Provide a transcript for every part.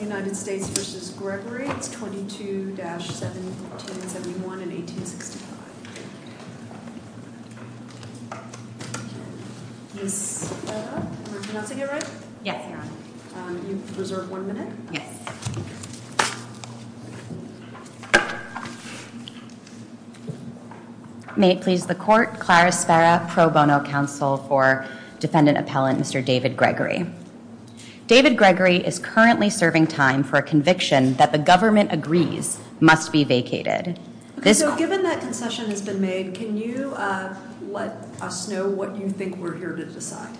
United States v. Gregory, 22-1771 and 1865. Ms. Farrah, am I pronouncing it right? Yes, you are. Can you reserve one minute? Yes. May it please the Court, Clarice Farrah, Pro Bono Counsel for Defendant Appellant, Mr. David Gregory. David Gregory is currently serving time for a conviction that the government agrees must be vacated. Okay, so given that concession has been made, can you let us know what you think we're here to decide?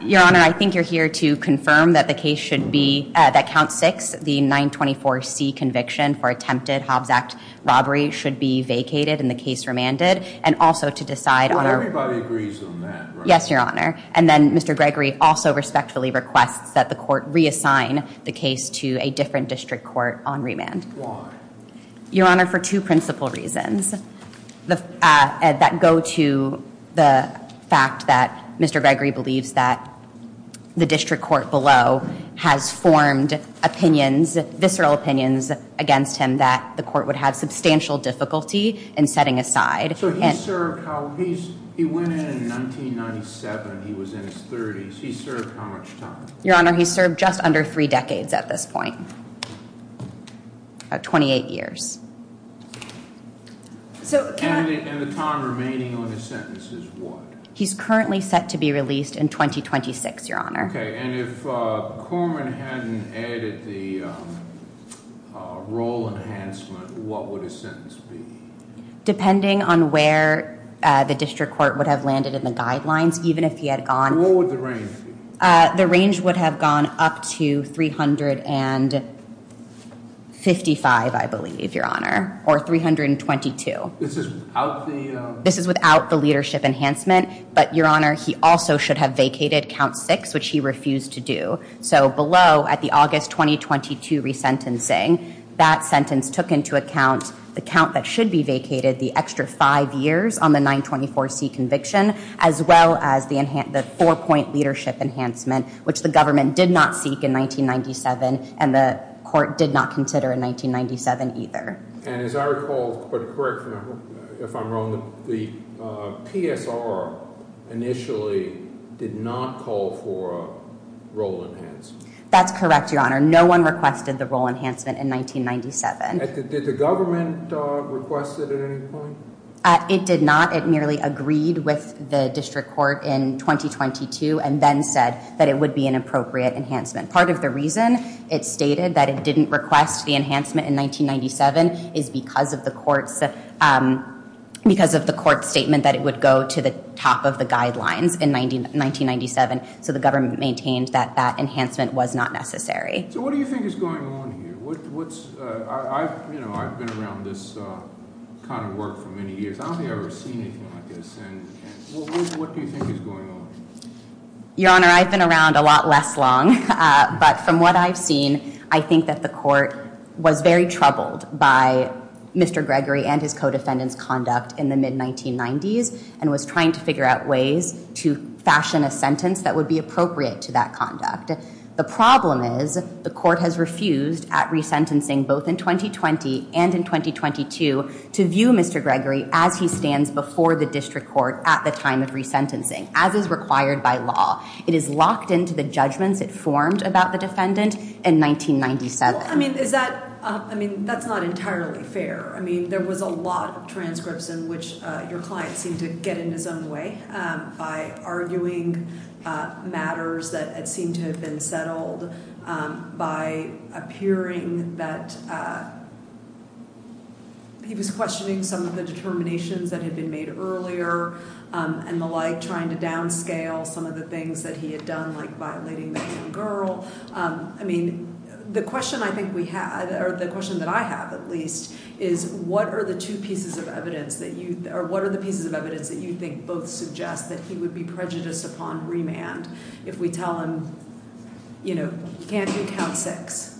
Your Honor, I think you're here to confirm that the case should be, that Count 6, the 924C conviction for attempted Hobbs Act robbery, should be vacated and the case remanded, and also to decide on our... Well, everybody agrees on that, right? Yes, Your Honor. And then Mr. Gregory also respectfully requests that the Court reassign the case to a different district court on remand. Why? Your Honor, for two principal reasons that go to the fact that Mr. Gregory believes that the district court below has formed opinions, visceral opinions against him that the Court would have substantial difficulty in setting aside. So he served, he went in in 1997, he was in his 30s, he served how much time? Your Honor, he served just under three decades at this point, about 28 years. And the time remaining on his sentence is what? He's currently set to be released in 2026, Your Honor. Okay, and if Corman hadn't added the role enhancement, what would his sentence be? Depending on where the district court would have landed in the guidelines, even if he had gone... What would the range be? The range would have gone up to 355, I believe, Your Honor, or 322. This is without the... This is without the leadership enhancement, but Your Honor, he also should have vacated count six, which he refused to do. So below, at the August 2022 resentencing, that sentence took into account the count that should be vacated, the extra five years on the 924C conviction, as well as the four-point leadership enhancement, which the government did not seek in 1997 and the Court did not consider in 1997 either. And as I recall, but correct me if I'm wrong, the PSR initially did not call for a role enhancement. That's correct, Your Honor. No one requested the role enhancement in 1997. Did the government request it at any point? It did not. It merely agreed with the district court in 2022 and then said that it would be an appropriate enhancement. Part of the reason it stated that it didn't request the enhancement in 1997 is because of the court's statement that it would go to the top of the guidelines in 1997, so the government maintained that that enhancement was not necessary. So what do you think is going on here? I've been around this kind of work for many years. I don't think I've ever seen anything like this. What do you think is going on? Your Honor, I've been around a lot less long, but from what I've seen, I think that the court was very troubled by Mr. Gregory and his co-defendants' conduct in the mid-1990s and was trying to figure out ways to fashion a sentence that would be appropriate to that conduct. The problem is the court has refused at resentencing, both in 2020 and in 2022, to view Mr. Gregory as he stands before the district court at the time of resentencing, as is required by law. It is locked into the judgments it formed about the defendant in 1997. I mean, that's not entirely fair. I mean, there was a lot of transcripts in which your client seemed to get in his own way by arguing matters that seemed to have been settled, by appearing that he was questioning some of the determinations that had been made earlier and the like, trying to downscale some of the things that he had done, like violating the young girl. I mean, the question I think we have, or the question that I have at least, is what are the two pieces of evidence that you think both suggest that he would be prejudiced upon remand if we tell him, you know, can't you count six?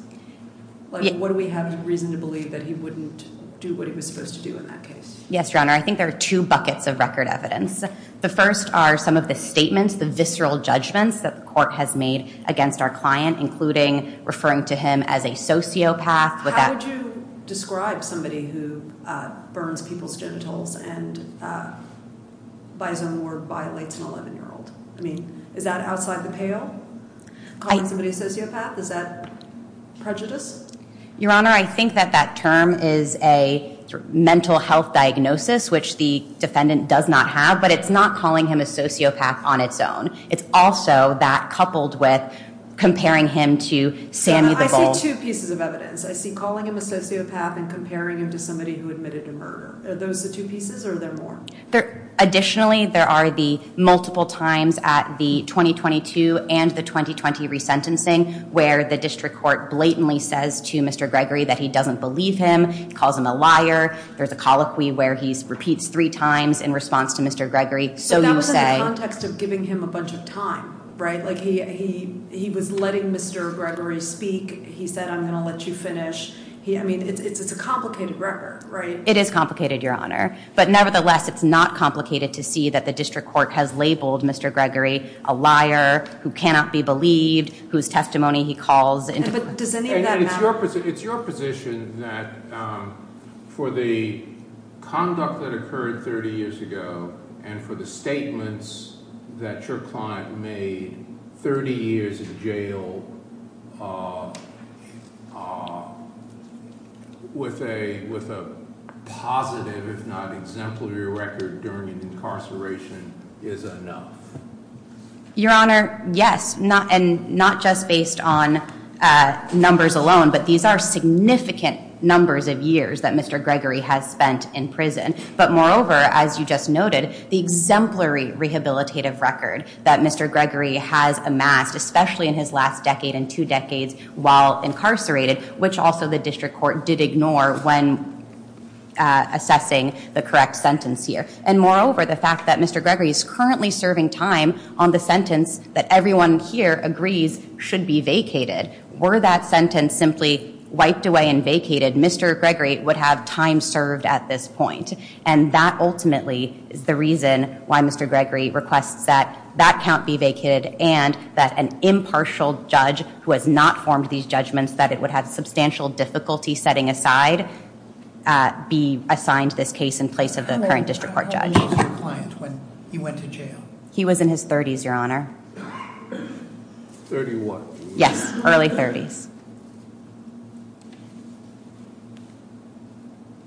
Like, what do we have reason to believe that he wouldn't do what he was supposed to do in that case? Yes, Your Honor, I think there are two buckets of record evidence. The first are some of the statements, the visceral judgments that the court has made against our client, including referring to him as a sociopath. How would you describe somebody who burns people's genitals and, by his own word, violates an 11-year-old? I mean, is that outside the pale, calling somebody a sociopath? Is that prejudice? Your Honor, I think that that term is a mental health diagnosis, which the defendant does not have, but it's not calling him a sociopath on its own. It's also that coupled with comparing him to Sammy the Bull. I see two pieces of evidence. I see calling him a sociopath and comparing him to somebody who admitted to murder. Are those the two pieces or are there more? Additionally, there are the multiple times at the 2022 and the 2020 resentencing where the district court blatantly says to Mr. Gregory that he doesn't believe him, calls him a liar. There's a colloquy where he repeats three times in response to Mr. Gregory, so you say... So that was in the context of giving him a bunch of time, right? Like, he was letting Mr. Gregory speak. He said, I'm going to let you finish. I mean, it's a complicated record, right? It is complicated, Your Honor. But nevertheless, it's not complicated to see that the district court has labeled Mr. Gregory a liar who cannot be believed, whose testimony he calls... But does any of that matter? It's your position that for the conduct that occurred 30 years ago and for the statements that your client made in 30 years in jail with a positive, if not exemplary record during incarceration is enough? Your Honor, yes. And not just based on numbers alone, but these are significant numbers of years that Mr. Gregory has spent in prison. But moreover, as you just noted, the exemplary rehabilitative record that Mr. Gregory has amassed, especially in his last decade and two decades while incarcerated, which also the district court did ignore when assessing the correct sentence here. And moreover, the fact that Mr. Gregory is currently serving time on the sentence that everyone here agrees should be vacated. Were that sentence simply wiped away and vacated, Mr. Gregory would have time served at this point. And that ultimately is the reason why Mr. Gregory requests that that count be vacated and that an impartial judge who has not formed these judgments, that it would have substantial difficulty setting aside, be assigned this case in place of the current district court judge. How old was your client when he went to jail? He was in his 30s, Your Honor. 31? Yes, early 30s.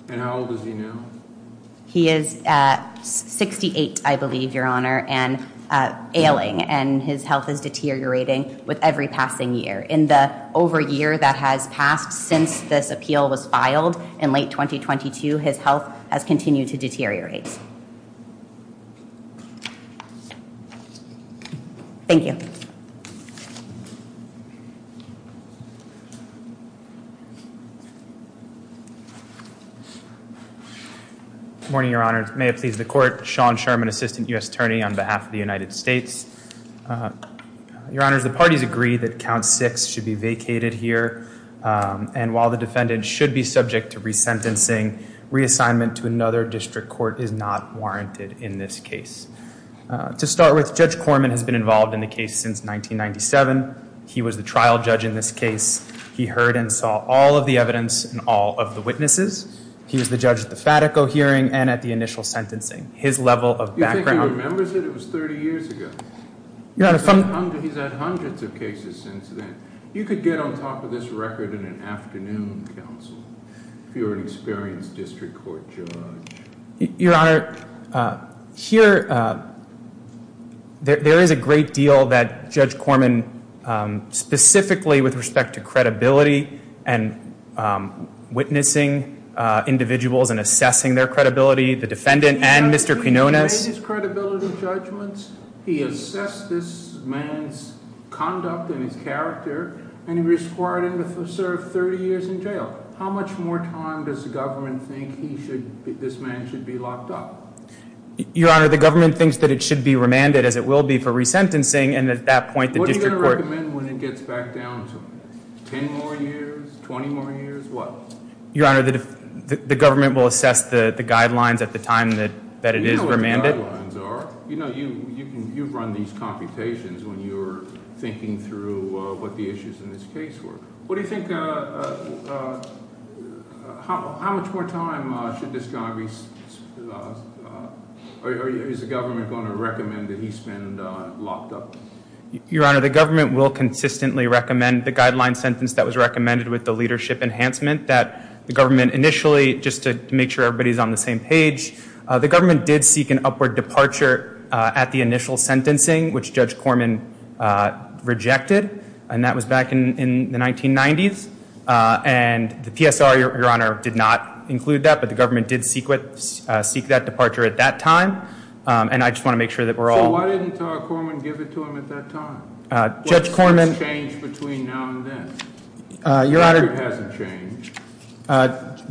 And how old is he now? He is 68, I believe, Your Honor, and ailing. And his health is deteriorating with every passing year. In the over year that has passed since this appeal was filed, in late 2022, his health has continued to deteriorate. Thank you. Good morning, Your Honor. May it please the court. Sean Sherman, Assistant US Attorney on behalf of the United States. Your Honor, the parties agree that count six should be vacated here. And while the defendant should be subject to resentencing, reassignment to another district court is not warranted in this case. To start with, Judge Corman has been involved in the case since 1997. He was the trial judge in this case. He heard and saw all of the evidence and all of the witnesses. He was the judge at the Fatico hearing and at the initial sentencing. His level of background... You think he remembers it? It was 30 years ago. Your Honor, from... He's had hundreds of cases since then. You could get on top of this record in an afternoon counsel if you were an experienced district court judge. Your Honor, here, there is a great deal that Judge Corman, specifically with respect to credibility and witnessing individuals and assessing their credibility, the defendant and Mr. Quinones... He made his credibility judgments, he assessed this man's conduct and his character, and he was required to serve 30 years in jail. How much more time does the government think this man should be locked up? Your Honor, the government thinks that it should be remanded, as it will be for resentencing, and at that point the district court... What are you going to recommend when it gets back down to 10 more years, 20 more years, what? Your Honor, the government will assess the guidelines at the time that it is remanded. You know what the guidelines are. You know, you run these computations when you're thinking through what the issues in this case were. What do you think... How much more time should this guy be... Is the government going to recommend that he's been locked up? Your Honor, the government will consistently recommend the guideline sentence that was recommended with the leadership enhancement that the government initially... Just to make sure everybody's on the same page, the government did seek an upward departure at the initial sentencing, which Judge Corman rejected, and that was back in the 1990s. And the PSR, Your Honor, did not include that, but the government did seek that departure at that time, and I just want to make sure that we're all... So why didn't Todd Corman give it to him at that time? What has changed between now and then? Your Honor... The record hasn't changed.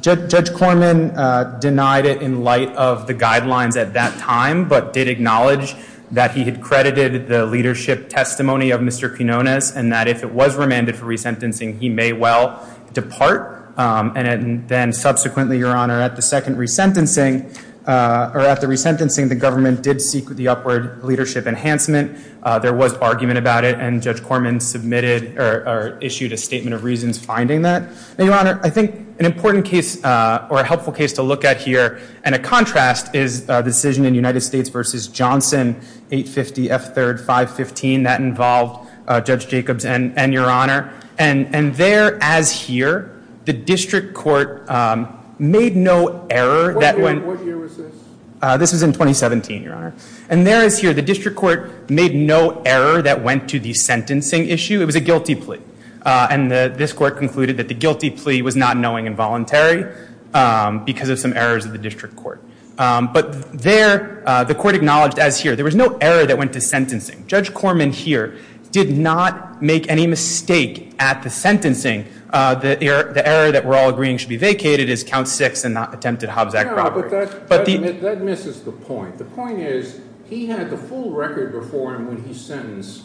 Judge Corman denied it in light of the guidelines at that time, but did acknowledge that he had credited the leadership testimony of Mr. Quinones, and that if it was remanded for resentencing, he may well depart. And then subsequently, Your Honor, at the second resentencing, or at the resentencing, the government did seek the upward leadership enhancement. There was argument about it, and Judge Corman submitted or issued a statement of reasons finding that. Now, Your Honor, I think an important case or a helpful case to look at here, and a contrast, is a decision in United States v. Johnson, 850 F. 3rd, 515. That involved Judge Jacobs and Your Honor. And there, as here, the district court made no error that went... What year was this? This was in 2017, Your Honor. And there, as here, the district court made no error that went to the sentencing issue. It was a guilty plea. And this court concluded that the guilty plea was not knowing and voluntary because of some errors of the district court. But there, the court acknowledged, as here, there was no error that went to sentencing. Judge Corman, here, did not make any mistake at the sentencing. The error that we're all agreeing should be vacated is count six and attempted Hobbs-Ackroyd. But that misses the point. The point is he had the full record before him when he sentenced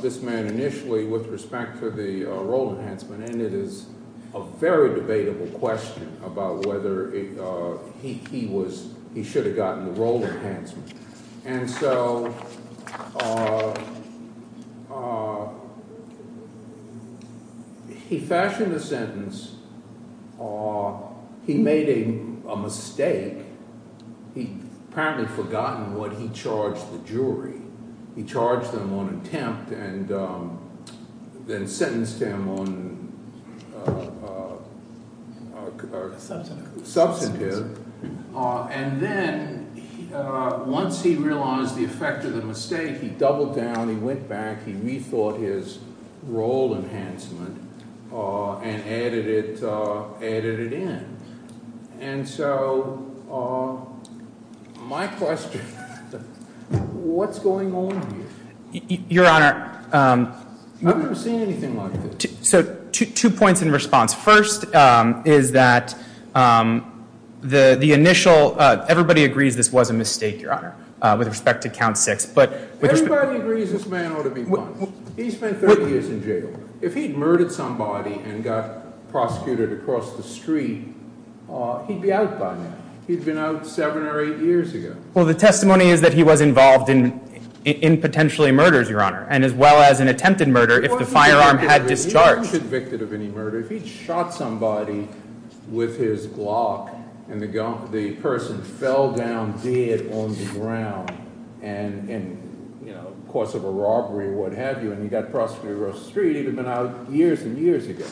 this man initially with respect to the role enhancement, and it is a very debatable question about whether he should have gotten the role enhancement. And so he fashioned a sentence. He made a mistake. He had apparently forgotten what he charged the jury. He charged them on attempt and then sentenced him on substantive. And then once he realized the effect of the mistake, he doubled down. He went back. He rethought his role enhancement and added it in. And so my question, what's going on here? Your Honor. I've never seen anything like this. So two points in response. First is that the initial, everybody agrees this was a mistake, Your Honor, with respect to count six. Everybody agrees this man ought to be punished. He spent 30 years in jail. If he'd murdered somebody and got prosecuted across the street, he'd be out by now. He'd been out seven or eight years ago. Well, the testimony is that he was involved in potentially murders, Your Honor, and as well as an attempted murder if the firearm had discharged. He wasn't convicted of any murder. If he'd shot somebody with his Glock and the person fell down dead on the ground in the course of a robbery or what have you and he got prosecuted across the street, he'd have been out years and years ago.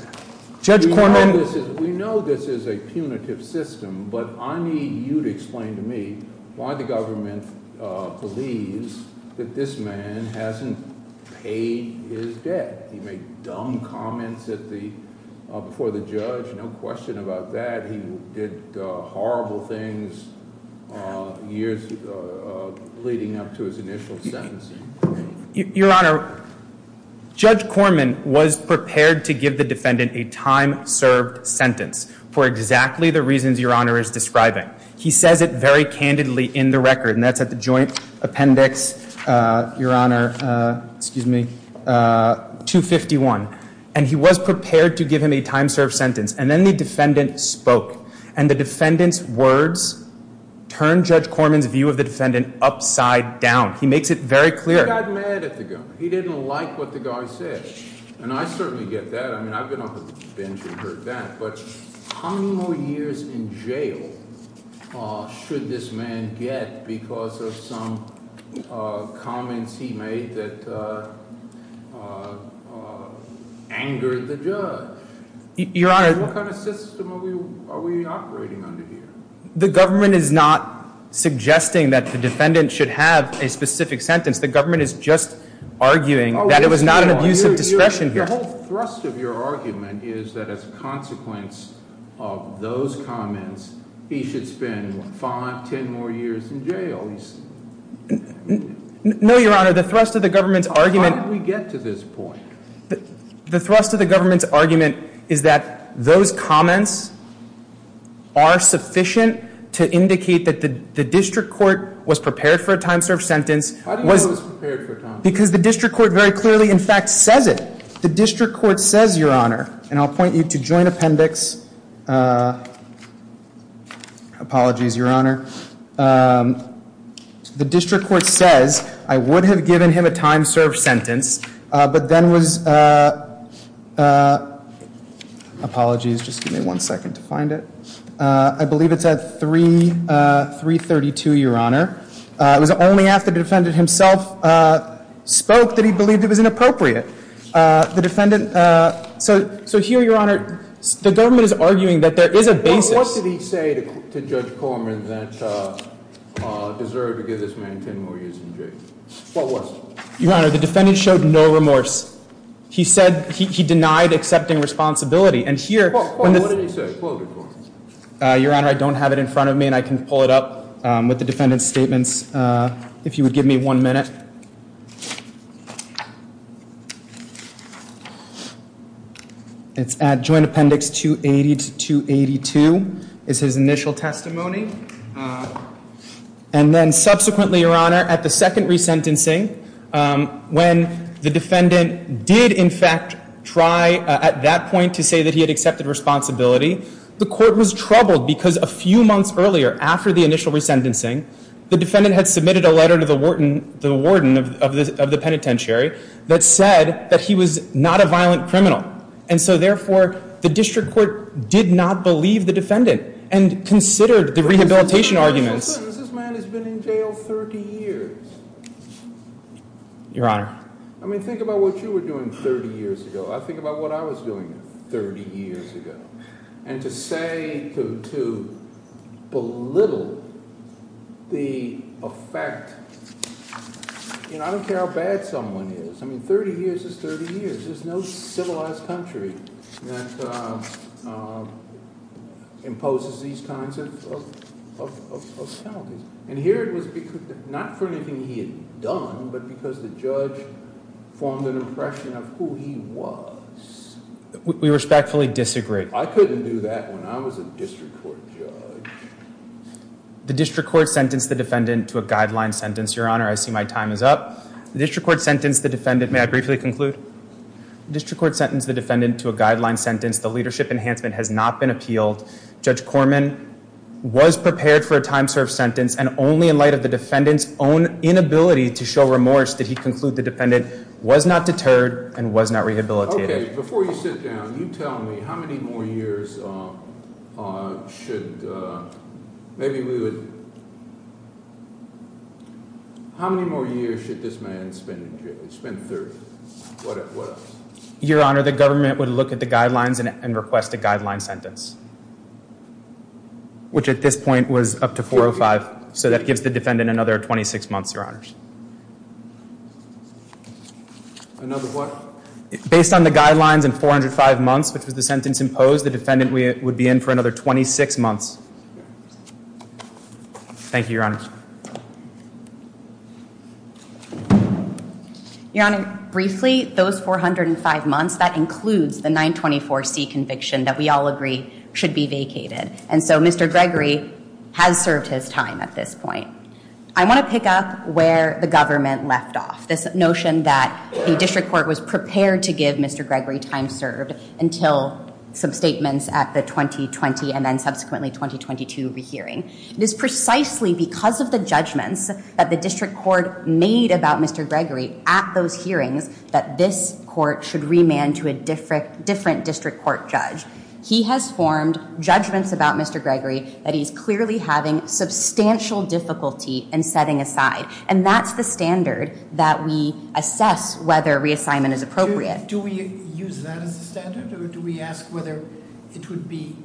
Judge Corman. We know this is a punitive system, but I need you to explain to me why the government believes that this man hasn't paid his debt. He made dumb comments before the judge, no question about that. He did horrible things years leading up to his initial sentencing. Your Honor, Judge Corman was prepared to give the defendant a time-served sentence for exactly the reasons Your Honor is describing. He says it very candidly in the record, and that's at the joint appendix, Your Honor. Excuse me. 251. And he was prepared to give him a time-served sentence, and then the defendant spoke. And the defendant's words turned Judge Corman's view of the defendant upside down. He makes it very clear. He got mad at the guy. He didn't like what the guy said. And I certainly get that. I mean, I've been on the bench and heard that. But how many more years in jail should this man get because of some comments he made that angered the judge? Your Honor. What kind of system are we operating under here? The government is not suggesting that the defendant should have a specific sentence. The government is just arguing that it was not an abuse of discretion here. The whole thrust of your argument is that as a consequence of those comments, he should spend five, ten more years in jail. No, Your Honor. The thrust of the government's argument— How did we get to this point? The thrust of the government's argument is that those comments are sufficient to indicate that the district court was prepared for a time-served sentence. Because the district court very clearly, in fact, says it. The district court says, Your Honor—and I'll point you to joint appendix. Apologies, Your Honor. The district court says, I would have given him a time-served sentence, but then was— Apologies. Just give me one second to find it. I believe it's at 332, Your Honor. It was only after the defendant himself spoke that he believed it was inappropriate. The defendant—so here, Your Honor, the government is arguing that there is a basis— What did he say to Judge Corman that deserved to give this man ten more years in jail? What was it? Your Honor, the defendant showed no remorse. He said—he denied accepting responsibility. And here— What did he say? Quote him. Your Honor, I don't have it in front of me, and I can pull it up with the defendant's statements if you would give me one minute. It's at joint appendix 280 to 282 is his initial testimony. And then subsequently, Your Honor, at the second resentencing, when the defendant did, in fact, try at that point to say that he had accepted responsibility, the court was troubled because a few months earlier, after the initial resentencing, the defendant had submitted a letter to the warden of the penitentiary that said that he was not a violent criminal. And so, therefore, the district court did not believe the defendant and considered the rehabilitation arguments— This man has been in jail 30 years. Your Honor. I mean, think about what you were doing 30 years ago. Think about what I was doing 30 years ago. And to say—to belittle the effect—you know, I don't care how bad someone is. I mean, 30 years is 30 years. There's no civilized country that imposes these kinds of penalties. And here it was not for anything he had done, but because the judge formed an impression of who he was. We respectfully disagree. I couldn't do that when I was a district court judge. The district court sentenced the defendant to a guideline sentence. Your Honor, I see my time is up. The district court sentenced the defendant—may I briefly conclude? The district court sentenced the defendant to a guideline sentence. The leadership enhancement has not been appealed. Judge Corman was prepared for a time-served sentence, and only in light of the defendant's own inability to show remorse did he conclude the defendant was not deterred and was not rehabilitated. Okay. Before you sit down, you tell me how many more years should—maybe we would—how many more years should this man spend in jail? He spent 30. What else? Your Honor, the government would look at the guidelines and request a guideline sentence, which at this point was up to 405. So that gives the defendant another 26 months, Your Honors. Another what? Based on the guidelines and 405 months, which was the sentence imposed, the defendant would be in for another 26 months. Thank you, Your Honors. Your Honor, briefly, those 405 months, that includes the 924C conviction that we all agree should be vacated. And so Mr. Gregory has served his time at this point. I want to pick up where the government left off. This notion that the district court was prepared to give Mr. Gregory time served until some statements at the 2020 and then subsequently 2022 re-hearing. It is precisely because of the judgments that the district court made about Mr. Gregory at those hearings that this court should remand to a different district court judge. He has formed judgments about Mr. Gregory that he's clearly having substantial difficulty in setting aside. And that's the standard that we assess whether reassignment is appropriate. Do we use that as a standard? Or do we ask whether it would be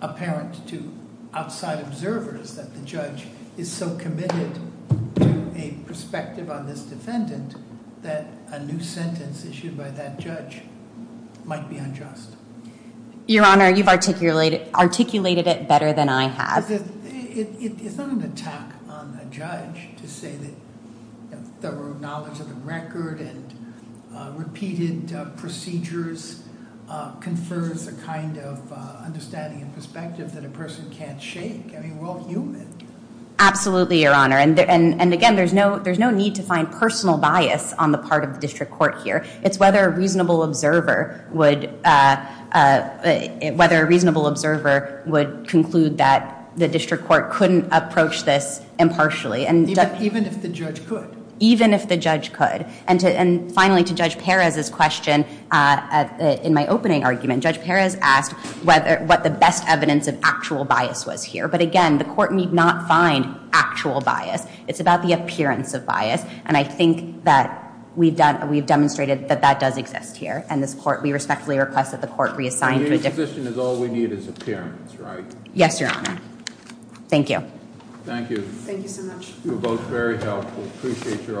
apparent to outside observers that the judge is so committed to a perspective on this defendant that a new sentence issued by that judge might be unjust? Your Honor, you've articulated it better than I have. It's not an attack on the judge to say that thorough knowledge of the record and repeated procedures confers a kind of understanding and perspective that a person can't shake. I mean, we're all human. Absolutely, Your Honor. And again, there's no need to find personal bias on the part of the district court here. It's whether a reasonable observer would conclude that the district court couldn't approach this impartially. Even if the judge could. Even if the judge could. And finally, to Judge Perez's question, in my opening argument, Judge Perez asked what the best evidence of actual bias was here. But again, the court need not find actual bias. It's about the appearance of bias. And I think that we've demonstrated that that does exist here. And we respectfully request that the court reassign to a different- Your position is all we need is appearance, right? Yes, Your Honor. Thank you. Thank you. Thank you so much. You were both very helpful. Appreciate your argument.